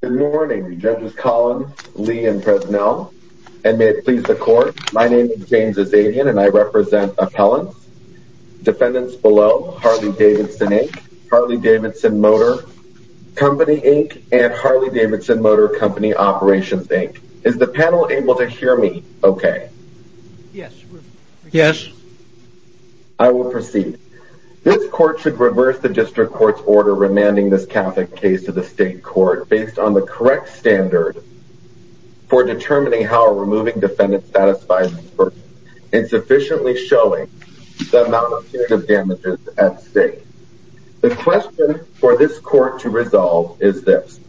Good morning, Judges Collins, Lee, and Personnel, and may it please the Court. My name is James Azadian and I represent Appellants, Defendants Below, Harley-Davidson, Inc., Harley-Davidson Motor Company, Inc., and Harley-Davidson Motor Company Operations, Inc. Is the panel able to hear me okay? Yes. Yes. I will proceed. This Court should reverse the District Court's order remanding this Catholic case to the State Court based on the correct standard for determining how a removing defendant satisfies the burden, insufficiently showing the amount of punitive damages at stake. The question for this Court to resolve is this.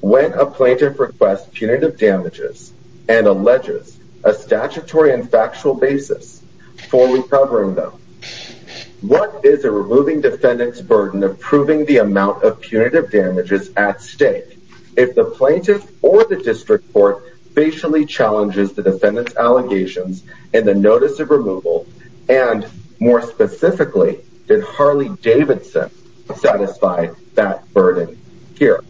When a plaintiff requests punitive damages and alleges a statutory and factual basis for recovering them, what is a removing defendant's burden of proving the amount of punitive damages at stake if the plaintiff or the District Court facially challenges the defendant's allegations in the notice of removal and, more specifically, did Harley-Davidson satisfy that burden here?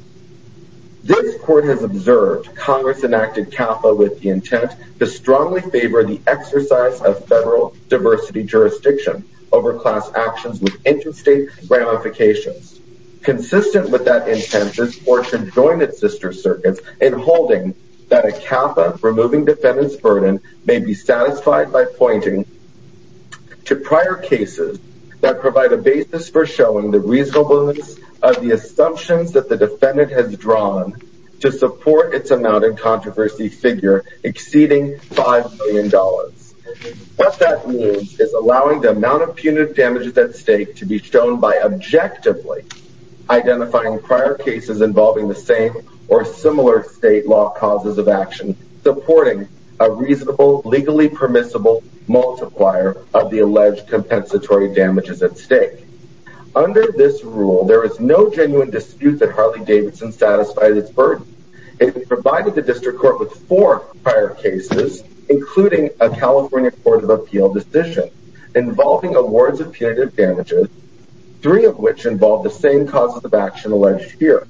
This Court has observed Congress enacted CAFA with the intent to strongly favor the exercise of federal diversity jurisdiction over class actions with interstate ramifications. Consistent with that intent, this Court should join its sister circuits in holding that a CAFA removing defendant's burden may be satisfied by pointing to prior cases that provide a basis for showing the reasonableness of the assumptions that the defendant has drawn to support its amount controversy figure exceeding $5 million. What that means is allowing the amount of punitive damages at stake to be shown by objectively identifying prior cases involving the same or similar state law causes of action supporting a reasonable, legally permissible multiplier of the alleged compensatory damages at stake. Under this rule, there is no genuine dispute that the District Court with four prior cases, including a California Court of Appeal decision, involving awards of punitive damages, three of which involve the same causes of action alleged here,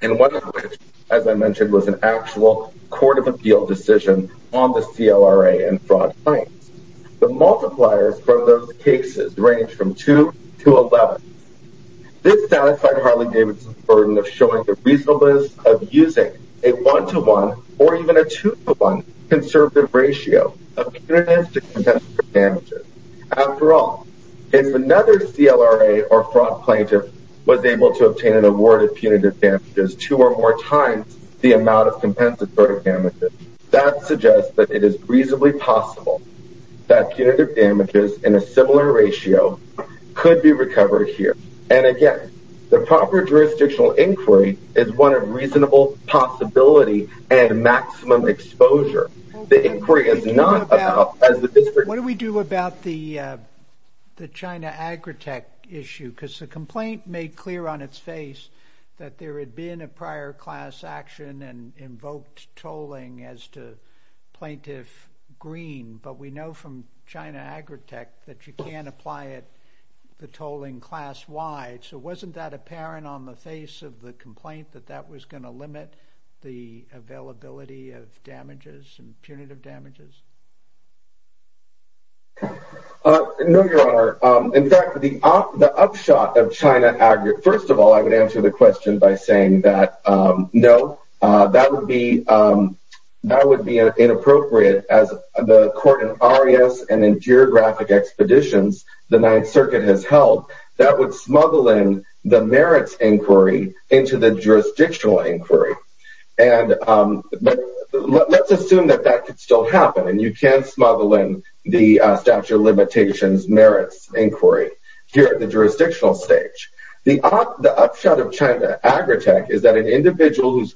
and one of which, as I mentioned, was an actual Court of Appeal decision on the CLRA and fraud claims. The multipliers from those cases range from 2 to 11. This satisfied Harley-Davidson's showing the reasonableness of using a 1 to 1 or even a 2 to 1 conservative ratio of punitive to compensatory damages. After all, if another CLRA or fraud plaintiff was able to obtain an award of punitive damages two or more times the amount of compensatory damages, that suggests that it is reasonably possible that punitive damages in a similar ratio could be recovered here. And again, the proper jurisdictional inquiry is one of reasonable possibility and maximum exposure. The inquiry is not about... What do we do about the China Agritech issue? Because the complaint made clear on its face that there had been a prior class action and invoked tolling as to Plaintiff Green, but we know from China Agritech that you can't apply it, tolling class-wide. So, wasn't that apparent on the face of the complaint that that was going to limit the availability of damages and punitive damages? No, Your Honor. In fact, the upshot of China Agritech... First of all, I would answer the question by saying that no, that would be inappropriate as the court in Arias and in geographic expeditions the Ninth Circuit has held. That would smuggle in the merits inquiry into the jurisdictional inquiry. And let's assume that that could still happen and you can smuggle in the statute of limitations merits inquiry here at the jurisdictional stage. The upshot of China Agritech is that an individual whose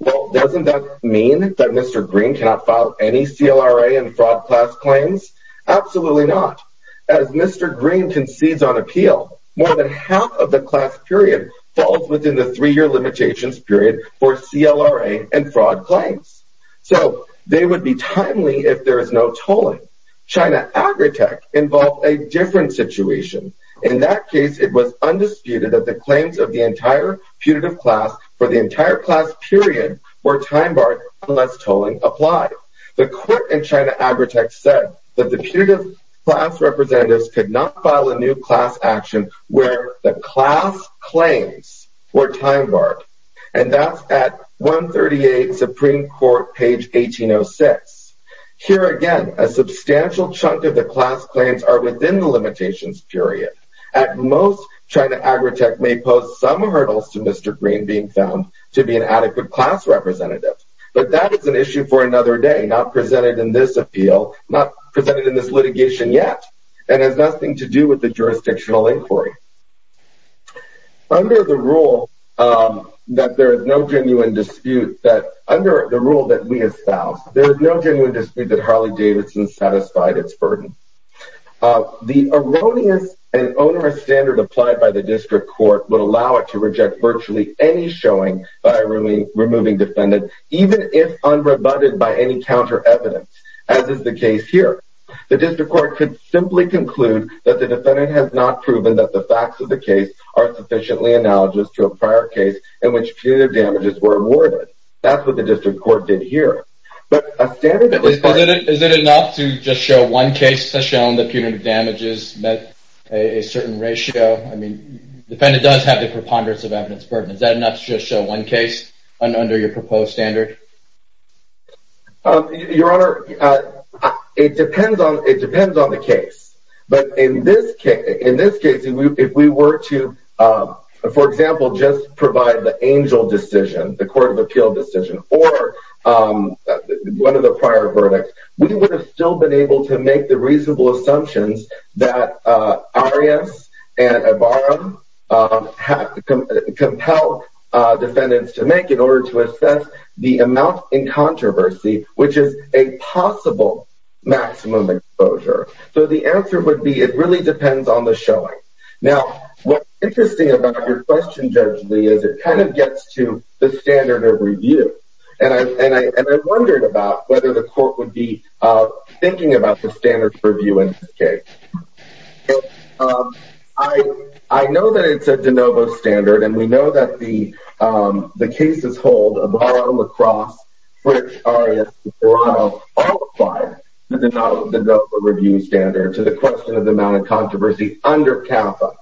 Well, doesn't that mean that Mr. Green cannot file any CLRA and fraud class claims? Absolutely not. As Mr. Green concedes on appeal, more than half of the class period falls within the three year limitations period for CLRA and fraud claims. So, they would be timely if there is no tolling. China Agritech involved a different situation. In that case, it was undisputed that the claims of the entire putative class for the entire class period were time-barred unless tolling applied. The court in China Agritech said that the putative class representatives could not file a new class action where the class claims were time-barred. And that's at 138 Supreme Court, page 1806. Here again, a substantial chunk of the class claims are within the limitations period. At most, China Agritech may post some hurdles to Mr. Green being found to be an adequate class representative. But that is an issue for another day, not presented in this appeal, not presented in this litigation yet, and has nothing to do with the jurisdictional inquiry. Under the rule that there is no genuine dispute that under the rule that we espouse, there is no genuine dispute that Harley-Davidson satisfied its burden. Uh, the erroneous and onerous standard applied by the district court would allow it to reject virtually any showing by removing defendant, even if unrebutted by any counter evidence, as is the case here. The district court could simply conclude that the defendant has not proven that the facts of the case are sufficiently analogous to a prior case in which putative damages were awarded. That's what the district court did here. But a standard... But is it enough to just show one case has shown that putative damages met a certain ratio? I mean, the defendant does have the preponderance of evidence burden. Is that enough to just show one case under your proposed standard? Your Honor, it depends on the case. But in this case, if we were to, for example, just provide the Angel decision, the Court of Appeal decision, or one of the prior verdicts, we would have still been able to make the reasonable assumptions that Arias and Ibarra have compelled defendants to make in order to assess the amount in controversy, which is a possible maximum exposure. So the answer would be it really depends on the showing. Now, what's interesting about your question, Judge Lee, is it kind of gets to the standard of review. And I wondered about whether the court would be thinking about the standard of review in this case. I know that it's a de novo standard, and we know that the cases hold Ibarra, La Crosse, Fritch, Arias, and Serrano all apply the de novo review standard to the question of the amount controversy under CAFA.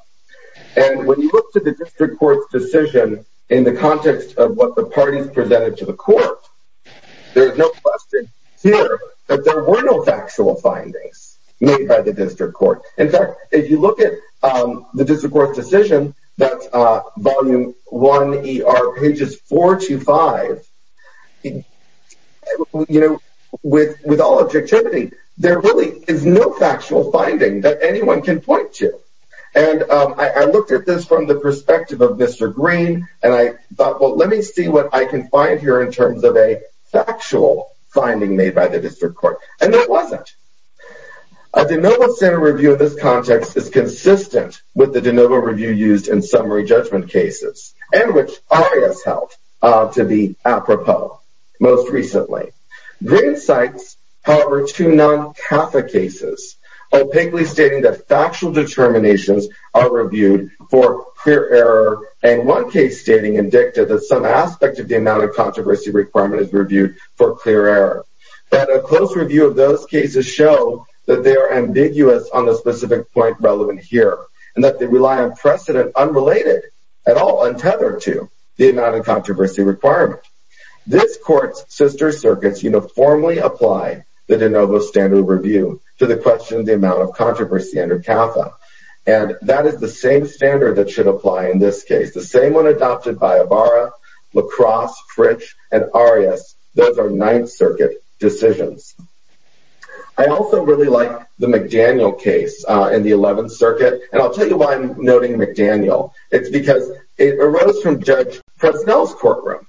And when you look to the district court's decision in the context of what the parties presented to the court, there's no question here that there were no factual findings made by the district court. In fact, if you look at the district court's decision, that's volume can point to. And I looked at this from the perspective of Mr. Green, and I thought, well, let me see what I can find here in terms of a factual finding made by the district court. And that wasn't. A de novo standard review of this context is consistent with the de novo review used in summary judgment cases, and which Arias held to be apropos most recently. Green cites, however, two non-CAFA cases, opaquely stating that factual determinations are reviewed for clear error, and one case stating in dicta that some aspect of the amount of controversy requirement is reviewed for clear error. That a close review of those cases show that they are ambiguous on the specific point relevant here, and that they rely on precedent unrelated at all, untethered to the amount of controversy requirement. This court's sister circuits uniformly apply the de novo standard review to the question of the amount of controversy under CAFA. And that is the same standard that should apply in this case. The same one adopted by Ibarra, La Crosse, Fritch, and Arias. Those are Ninth Circuit decisions. I also really like the McDaniel case in the Eleventh Circuit. And I'll tell you why I'm noting McDaniel. It's because it arose from Judge Presnell's courtroom.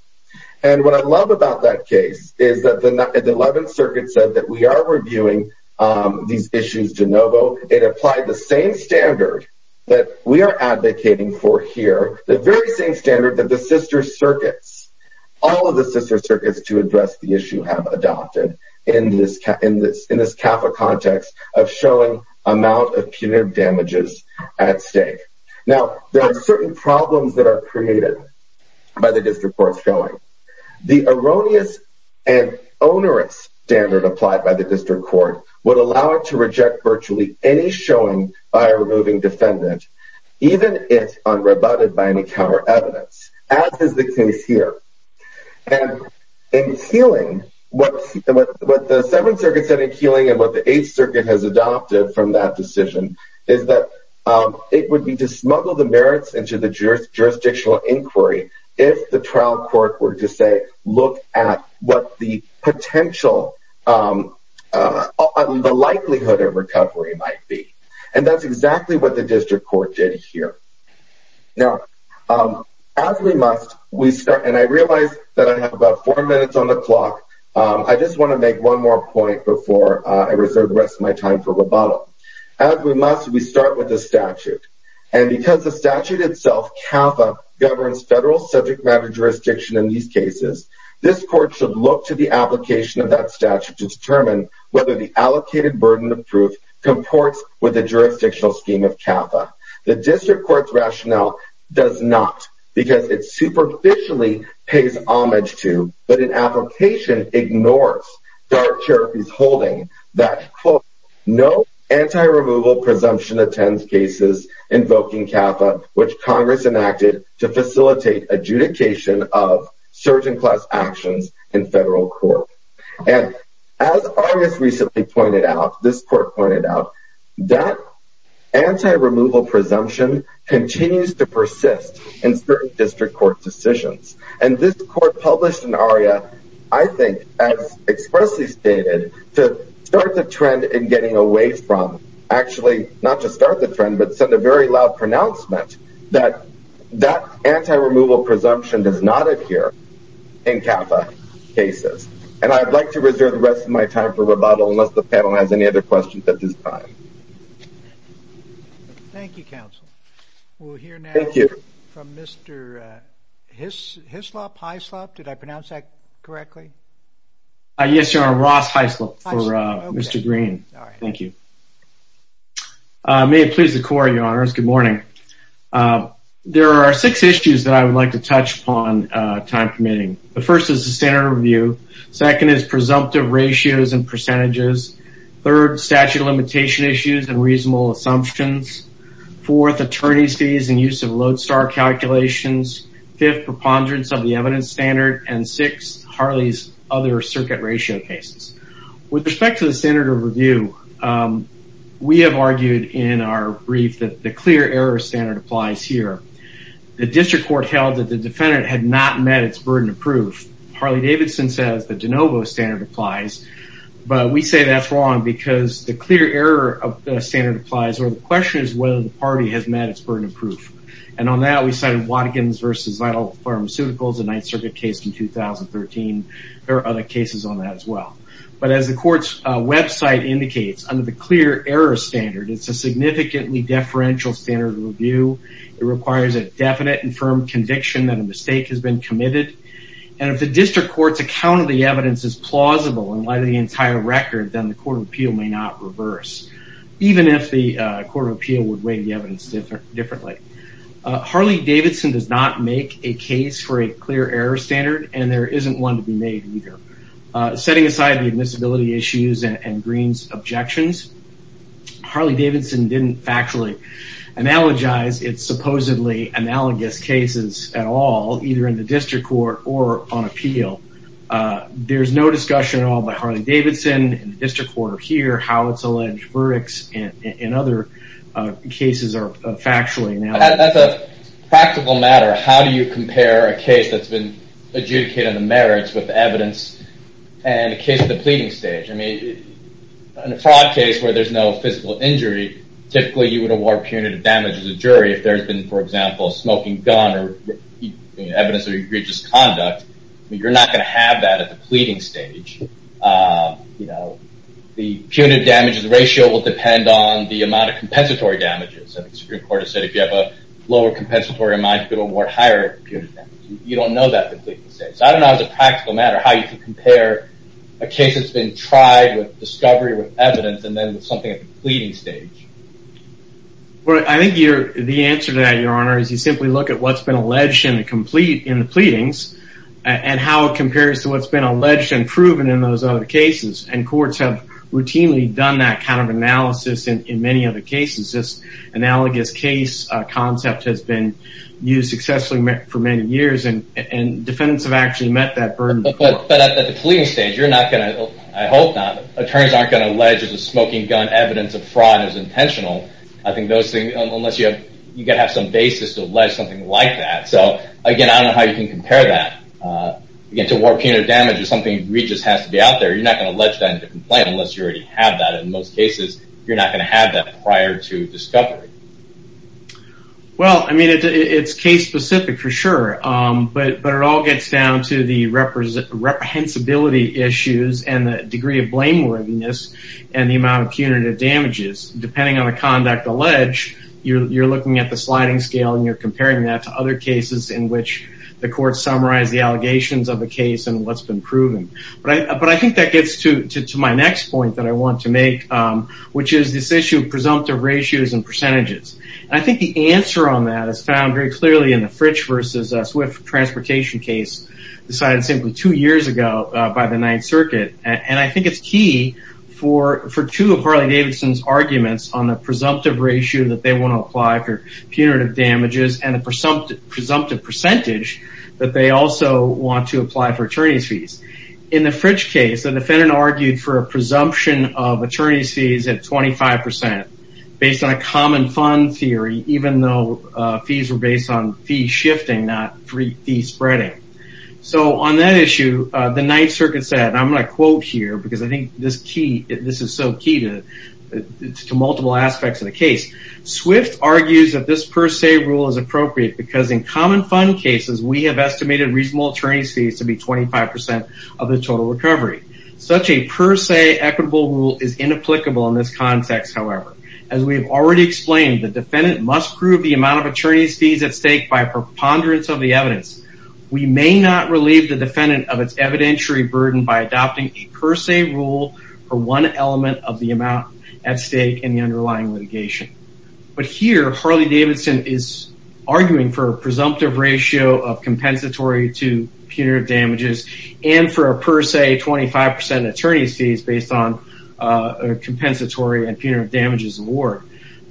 And what I love about that case is that the Eleventh Circuit said that we are reviewing these issues de novo. It applied the same standard that we are advocating for here, the very same standard that the sister circuits, all of the sister circuits to address the issue have adopted in this CAFA context of showing amount of punitive damages at stake. Now, there are certain problems that are created by the district courts going. The erroneous and onerous standard applied by the district court would allow it to reject virtually any showing by a removing defendant, even if unrebutted by any counter evidence, as is the case here. And in Keeling, what the Seventh Circuit said in Keeling and what the Eighth Circuit has adopted from that decision is that it would be to smuggle the merits into the jurisdictional inquiry if the trial court were to say, look at what the potential, the likelihood of recovery might be. And that's exactly what the district court did here. Now, as we must, we start, and I realize that I have about four minutes on the clock. I just want to make one more point before I reserve the rest of my time for rebuttal. As we must, we start with the statute. And because the statute itself, CAFA, governs federal subject matter jurisdiction in these cases, this court should look to the application of that statute to determine whether the allocated burden of proof comports with the jurisdictional scheme of CAFA. The district court's rationale does not because it superficially pays homage to, but in application ignores Darke Cherokee's holding that quote, no anti-removal presumption attends cases invoking CAFA, which Congress enacted to facilitate adjudication of certain class actions in federal court. And as Argus recently pointed out, this court pointed out that anti-removal presumption continues to persist in certain district court decisions. And this court published an aria, I think, as expressly stated, to start the trend in getting away from actually, not just start the trend, but send a very loud pronouncement that that anti-removal presumption does not adhere in CAFA cases. And I'd like to reserve the rest of my time for rebuttal unless the panel has any other questions at this time. Thank you, counsel. We'll hear now from Mr. Hislop, did I pronounce that correctly? Yes, your honor, Ross Hislop for Mr. Green. Thank you. May it please the court, your honors. Good morning. There are six issues that I would like to touch upon time permitting. The first is the standard of review. Second is presumptive ratios and percentages. Third, statute of limitation issues and reasonable assumptions. Fourth, attorney's fees and use of load star calculations. Fifth, preponderance of the evidence standard. And sixth, Harley's other circuit ratio cases. With respect to the standard of review, we have argued in our brief that the clear error standard applies here. The district court held that the defendant had not met its burden of proof. Harley-Davidson says the de novo standard applies, but we say that's wrong because the clear error of the standard applies where the question is whether the party has met its burden of proof. And on that, we cited Watkins v. Vital Pharmaceuticals, a Ninth Circuit case in 2013. There are other cases on that as well. But as the court's website indicates, under the clear error standard, it's a significantly deferential standard of review. It requires a definite and district court's account of the evidence is plausible and by the entire record, then the court of appeal may not reverse. Even if the court of appeal would weigh the evidence differently. Harley-Davidson does not make a case for a clear error standard, and there isn't one to be made either. Setting aside the admissibility issues and Green's objections, Harley-Davidson didn't factually analogize its supposedly analogous cases at all, either in the district court or on appeal. There's no discussion at all by Harley-Davidson in the district court or here how its alleged verdicts in other cases are factually analogous. As a practical matter, how do you compare a case that's been adjudicated on the merits with evidence and a case of the pleading stage? I mean, in a fraud case where there's no physical injury, typically you would award punitive damage as a jury if there's been, for example, a smoking gun or evidence of egregious conduct. You're not going to have that at the pleading stage. The punitive damages ratio will depend on the amount of compensatory damages. The Supreme Court has said if you have a lower compensatory amount, you could award higher punitive damage. You don't know that at the pleading stage. So I don't know as a practical matter how you can compare a case that's been tried with discovery, with evidence, and then with something at the pleading stage. I think the answer to that, Your Honor, is you simply look at what's been alleged in the pleadings and how it compares to what's been alleged and proven in those other cases. And courts have routinely done that kind of analysis in many other cases. This analogous case concept has been used successfully for many years and defendants have actually met that burden before. But at the pleading stage, you're not going to, I hope not, attorneys aren't going to allege that the smoking gun evidence of fraud is intentional. I think those things, unless you have some basis to allege something like that. So again, I don't know how you can compare that. Again, to warrant punitive damage or something egregious has to be out there, you're not going to allege that in a complaint unless you already have that. In most cases, you're not going to have that prior to discovery. Well, I mean, it's case specific for sure. But it all gets down to the reprehensibility issues and the degree of blameworthiness and the amount of punitive damages. Depending on the conduct alleged, you're looking at the sliding scale and you're comparing that to other cases in which the court summarized the allegations of a case and what's been proven. But I think that gets to my next point that I want to make, which is this issue of presumptive ratios and percentages. And I think the answer on that is found very clearly in the Fritch versus Swift transportation case decided simply two years ago by the Ninth Circuit. And I think it's key for two of Harley-Davidson's arguments on the presumptive ratio that they want to apply for punitive damages and the presumptive percentage that they also want to apply for attorney's fees. In the Fritch case, the defendant argued for a presumption of attorney's fees at 25 percent based on a common fund theory, even though fees were based on fee shifting, not free fee spreading. So on that issue, the Ninth Circuit said, and I'm going to quote here because I think this is so key to multiple aspects of the case. Swift argues that this per se rule is appropriate because in common fund cases, we have estimated reasonable attorney's fees to be 25 of the total recovery. Such a per se equitable rule is inapplicable in this context, however. As we've already explained, the defendant must prove the amount of attorney's fees at stake by a preponderance of the evidence. We may not relieve the defendant of its evidentiary burden by adopting a per se rule for one element of the amount at stake in the underlying litigation. But here, Harley-Davidson is arguing for a presumptive ratio of compensatory to punitive damages and for a per se 25 percent attorney's fees based on a compensatory and punitive damages award.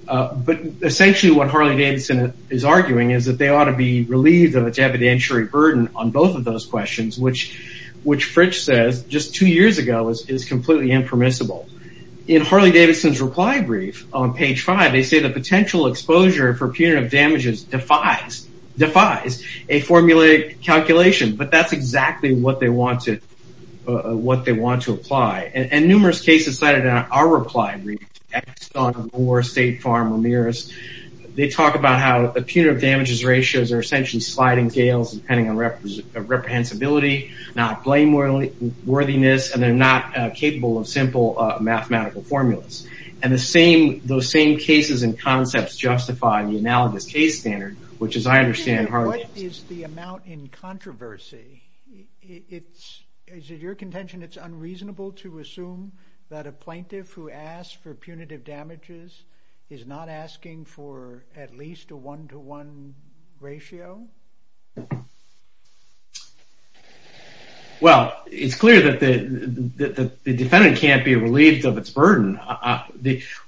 But essentially what Harley-Davidson is arguing is that they ought to be relieved of its evidentiary burden on both of those questions, which Fritch says just two years ago is completely impermissible. In Harley-Davidson's reply brief on page five, they say the potential exposure for calculation. But that's exactly what they want to apply. And numerous cases cited in our reply brief, they talk about how punitive damages ratios are essentially sliding scales depending on reprehensibility, not blameworthiness, and they're not capable of simple mathematical formulas. And those same cases and concepts justify the analogous case standard, which as I understand is the amount in controversy. Is it your contention it's unreasonable to assume that a plaintiff who asks for punitive damages is not asking for at least a one-to-one ratio? Well, it's clear that the defendant can't be relieved of its burden.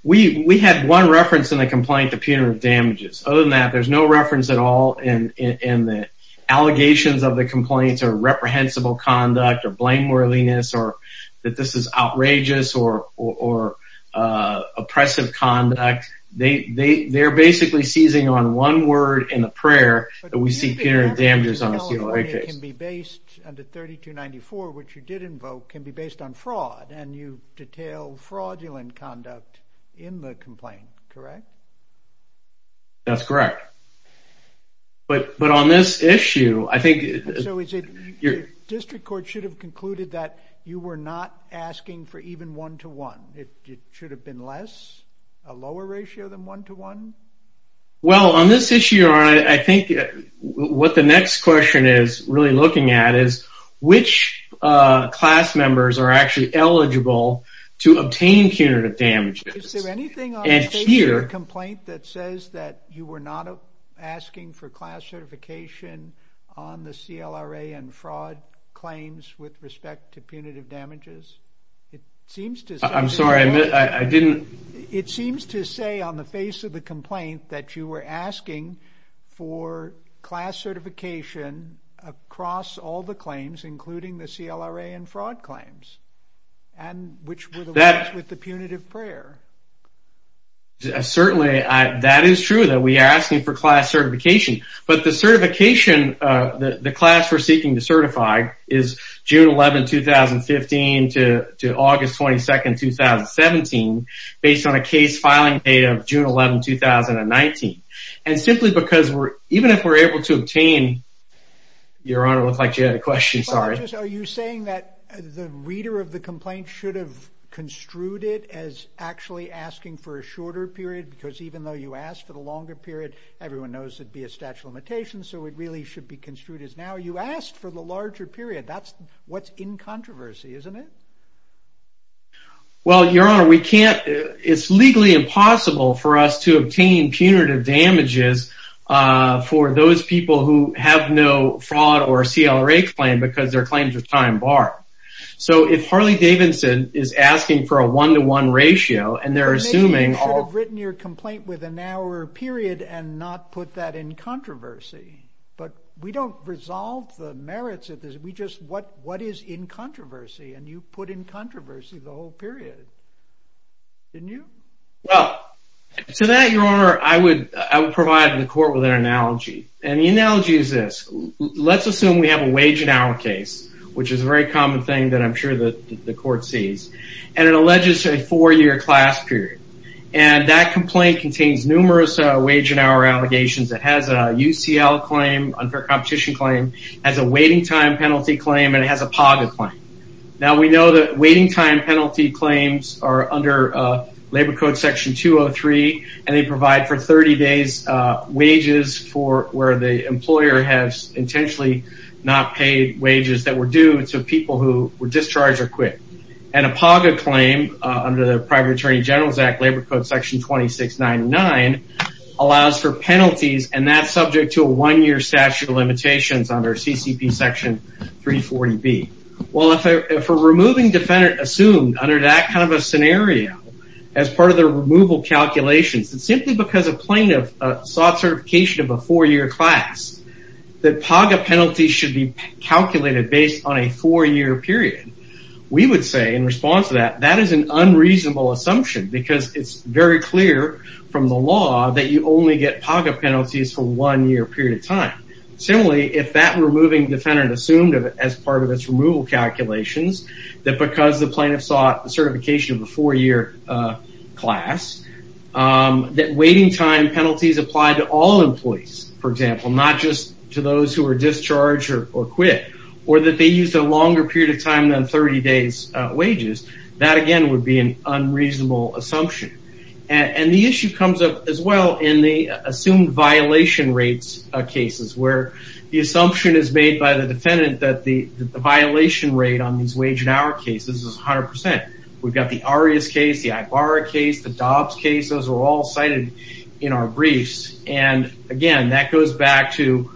We had one reference in the complaint to punitive damages. Other than that, there's no reference at all in the allegations of the complaints or reprehensible conduct or blameworthiness or that this is outrageous or oppressive conduct. They're basically seizing on one word in a prayer that we see punitive damages on a civil right case. But you did say California can be based under 3294, which you did invoke, can be based on fraud, and you detail fraudulent conduct in the complaint, correct? That's correct. But on this issue, I think... District Court should have concluded that you were not asking for even one-to-one. It should have been less, a lower ratio than one-to-one? Well, on this issue, I think what the next question is really looking at is which class members are actually eligible to obtain punitive damages. Is there anything on the face of the complaint that says that you were not asking for class certification on the CLRA and fraud claims with respect to punitive damages? It seems to... I'm sorry, I didn't... It seems to say on the face of the complaint that you were asking for class certification across all the claims, including the CLRA and fraud claims, and which were the ones with the punitive prayer. Certainly, that is true that we are asking for class certification. But the certification, the class we're seeking to certify is June 11, 2015 to August 22, 2017, based on a case filing date of June 11, 2019. And simply because we're... Even if we're able to obtain... Your Honor, it looks like you had a question. Sorry. Are you saying that the reader of the complaint should have construed it as actually asking for a shorter period? Because even though you asked for the longer period, everyone knows it'd be a statute of limitations, so it really should be construed as now you asked for the larger period. That's what's in controversy, isn't it? Well, Your Honor, we can't... It's legally impossible for us to obtain punitive damages for those people who have no fraud or CLRA claim because their claims are time-barred. So if Harley-Davidson is asking for a one-to-one ratio and they're assuming... Maybe you should have written your complaint with an hour period and not put that in controversy. But we don't resolve the merits of this. We just... What is in controversy? And you put in controversy the whole period. Didn't you? Well, to that, Your Honor, I would provide the court with an analogy. And the I'm sure the court sees. And it alleges a four-year class period. And that complaint contains numerous wage and hour allegations. It has a UCL claim, unfair competition claim, has a waiting time penalty claim, and it has a PAGA claim. Now, we know that waiting time penalty claims are under Labor Code Section 203, and they provide for 30 days wages for where the employer has not paid wages that were due to people who were discharged or quit. And a PAGA claim, under the Private Attorney General's Act, Labor Code Section 2699, allows for penalties. And that's subject to a one-year statute of limitations under CCP Section 340B. Well, if a removing defendant assumed under that kind of a scenario, as part of their removal calculations, and simply because a plaintiff sought certification of a four-year class, that PAGA penalties should be calculated based on a four-year period, we would say, in response to that, that is an unreasonable assumption because it's very clear from the law that you only get PAGA penalties for one-year period of time. Similarly, if that removing defendant assumed, as part of its removal calculations, that because the plaintiff sought certification of a four-year class, that waiting time penalties apply to all employees, for example, not just to those who are discharged or quit, or that they used a longer period of time than 30 days wages, that again would be an unreasonable assumption. And the issue comes up as well in the assumed violation rates cases, where the assumption is made by the defendant that the violation rate on these cases is 100%. We've got the Arias case, the Ibarra case, the Dobbs case, those are all cited in our briefs. And again, that goes back to,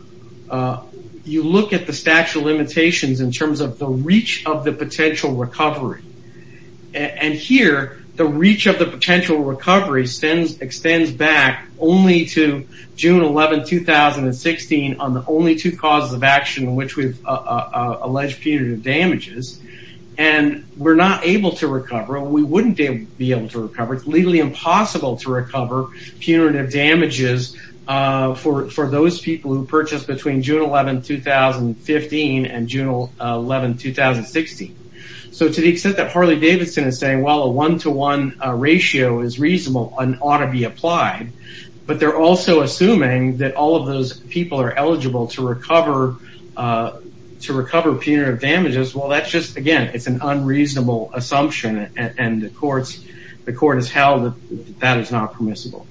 you look at the statute of limitations in terms of the reach of the potential recovery. And here, the reach of the potential recovery extends back only to June 11, 2016, on the only two causes of action in which we've alleged punitive damages. And we're not able to recover, or we wouldn't be able to recover, it's legally impossible to recover punitive damages for those people who purchased between June 11, 2015 and June 11, 2016. So to the extent that Harley-Davidson is saying, well, a one-to-one ratio is reasonable and ought to be applied, but they're also assuming that all of those people are eligible to recover punitive damages, well, that's just, again, it's an unreasonable assumption and the court has held that that is not permissible.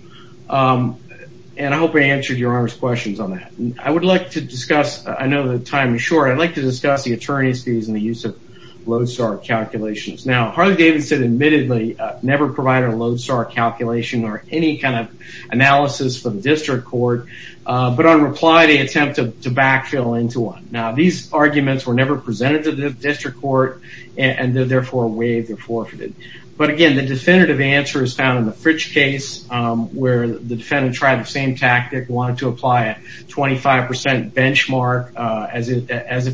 And I hope I answered your Honor's questions on that. I would like to discuss, I know the time is short, I'd like to discuss the attorney's fees and the use of Lodestar calculations. Now, Harley-Davidson admittedly never provided a Lodestar calculation or any kind of analysis for the district court, but on reply, they attempted to backfill into one. Now, these arguments were never presented to the district court, and they're therefore waived or forfeited. But again, the definitive answer is found in the Fritch case, where the defendant tried the same tactic, wanted to apply a 25% benchmark as if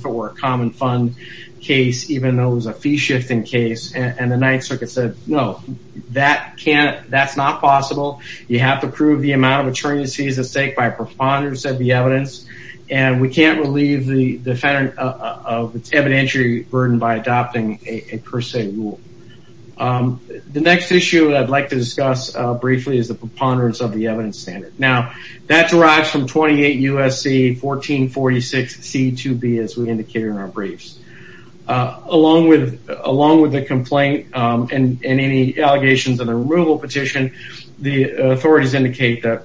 it were a common fund case, even though it was a fee-shifting case, and the Ninth Circuit said, no, that's not possible. You have to prove the amount of attorney's fees at stake by a preponderance of the evidence, and we can't relieve the defendant of its evidentiary burden by adopting a per se rule. The next issue I'd like to discuss briefly is the preponderance of the evidence standard. Now, that derives from 28 U.S.C. 1446 C.2.B., as we indicated in our briefs. Along with the complaint and any allegations of the removal petition, the authorities indicate that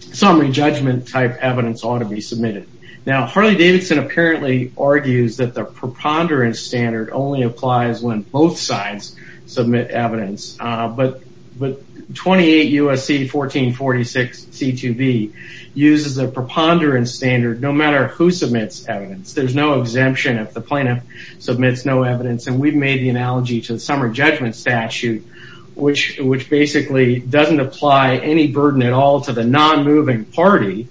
some re-judgment type evidence ought to be submitted. Now, Harley-Davidson apparently argues that the preponderance standard only applies when both sides submit evidence, but 28 U.S.C. 1446 C.2.B. uses a preponderance standard no matter who submits evidence. There's no exemption if the plaintiff submits no evidence, and we've made the analogy to the summer judgment statute, which basically doesn't apply any burden at all to the non-moving party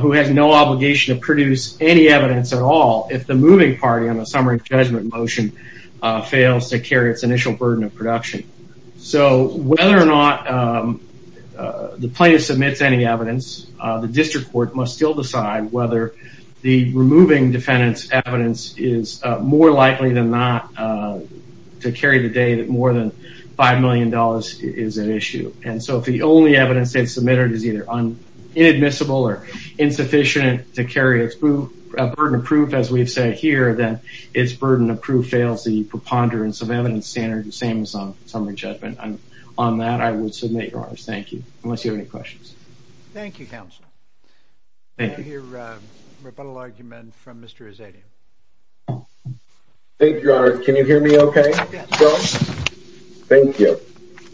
who has no obligation to produce any evidence at all if the moving party on the summary judgment motion fails to carry its initial burden of production. So, whether or not the plaintiff submits any evidence, the district court must still decide whether the removing defendant's evidence is more likely than not to carry the day that more than $5 million is at issue. And so, if the only evidence they've submitted is either inadmissible or insufficient to carry its burden of proof, as we've said here, then its burden of proof fails the preponderance of evidence standard, the same as on summary judgment. On that, I would submit your honors. Thank you, unless you have any questions. Thank you, counsel. I hear a rebuttal argument from Mr. Azzedian. Thank you, your honor. Can you hear me okay? Thank you.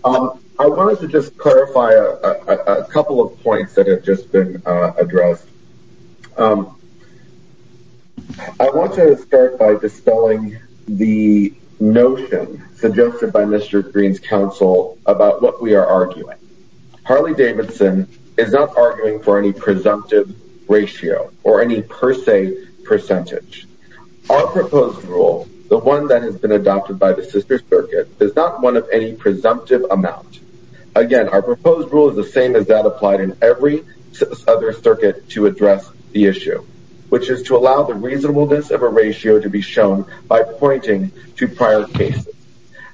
I wanted to just clarify a couple of points that have just been addressed. I want to start by dispelling the notion suggested by Mr. Green's counsel about what we are arguing. Harley Davidson is not presumptive ratio or any per se percentage. Our proposed rule, the one that has been adopted by the sister circuit, is not one of any presumptive amount. Again, our proposed rule is the same as that applied in every other circuit to address the issue, which is to allow the reasonableness of a ratio to be shown by pointing to prior cases.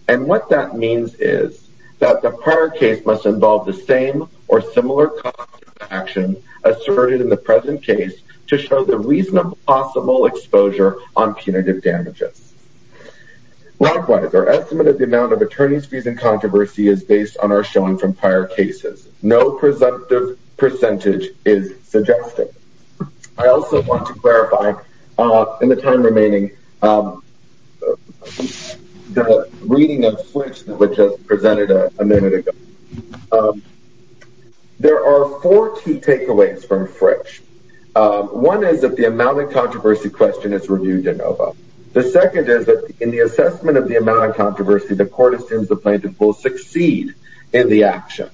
And what that means is that the prior case must involve the same or similar cost of action asserted in the present case to show the reasonable possible exposure on punitive damages. Likewise, our estimate of the amount of attorney's fees and controversy is based on our showing from prior cases. No presumptive percentage is suggested. I also want to clarify in the time remaining, the reading of switch that was just mentioned a minute ago. There are four key takeaways from Fritch. One is that the amount of controversy question is reviewed in OVA. The second is that in the assessment of the amount of controversy, the court assumes the plaintiff will succeed in the action.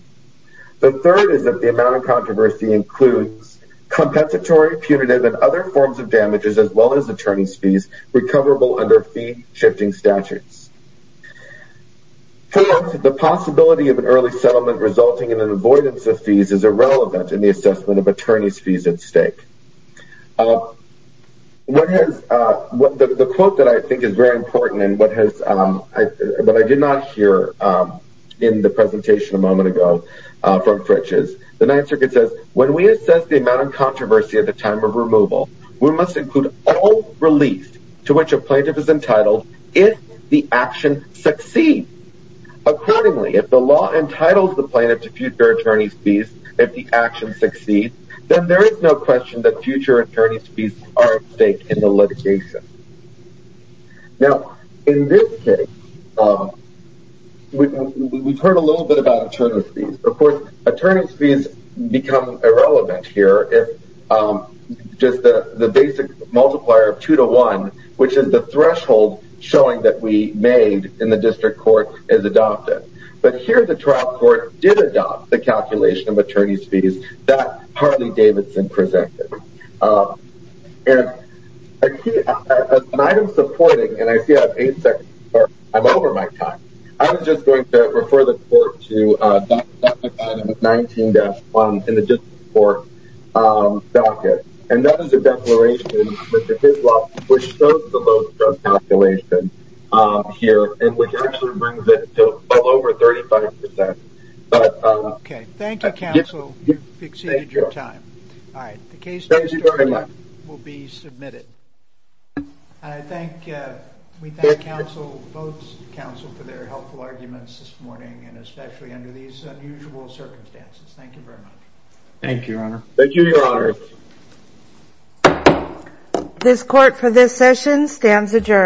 The third is that the amount of controversy includes compensatory, punitive and other forms of damages as well as attorney's fees recoverable under fee shifting statutes. Fourth, the possibility of an early settlement resulting in an avoidance of fees is irrelevant in the assessment of attorney's fees at stake. The quote that I think is very important and what I did not hear in the presentation a moment ago from Fritch is, the Ninth Circuit says, when we assess the amount of controversy at the time of removal, we must include all relief to which a plaintiff is entitled if the action succeeds. Accordingly, if the law entitles the plaintiff to future attorney's fees if the action succeeds, then there is no question that future attorney's fees are at stake in the litigation. Now, in this case, we have heard a little bit about attorney's fees. Of course, attorney's fees become irrelevant here if just the basic multiplier of 2 to 1, which is the threshold showing that we made in the district court, is adopted. But here the trial court did adopt the calculation of attorney's fees that Harley Davidson presented. An item supporting, and I see I'm over my time, I'm just going to refer the court to item 19-1 in the district court docket. And that is a declaration, Mr. Hislop, which shows the low drug calculation here and which actually brings it to well over 35 percent. Okay, thank you, counsel. You've exceeded your time. All right, the case will be submitted. I thank, we thank counsel, both counsel, for their helpful arguments this morning and especially under these unusual circumstances. This court for this session stands adjourned.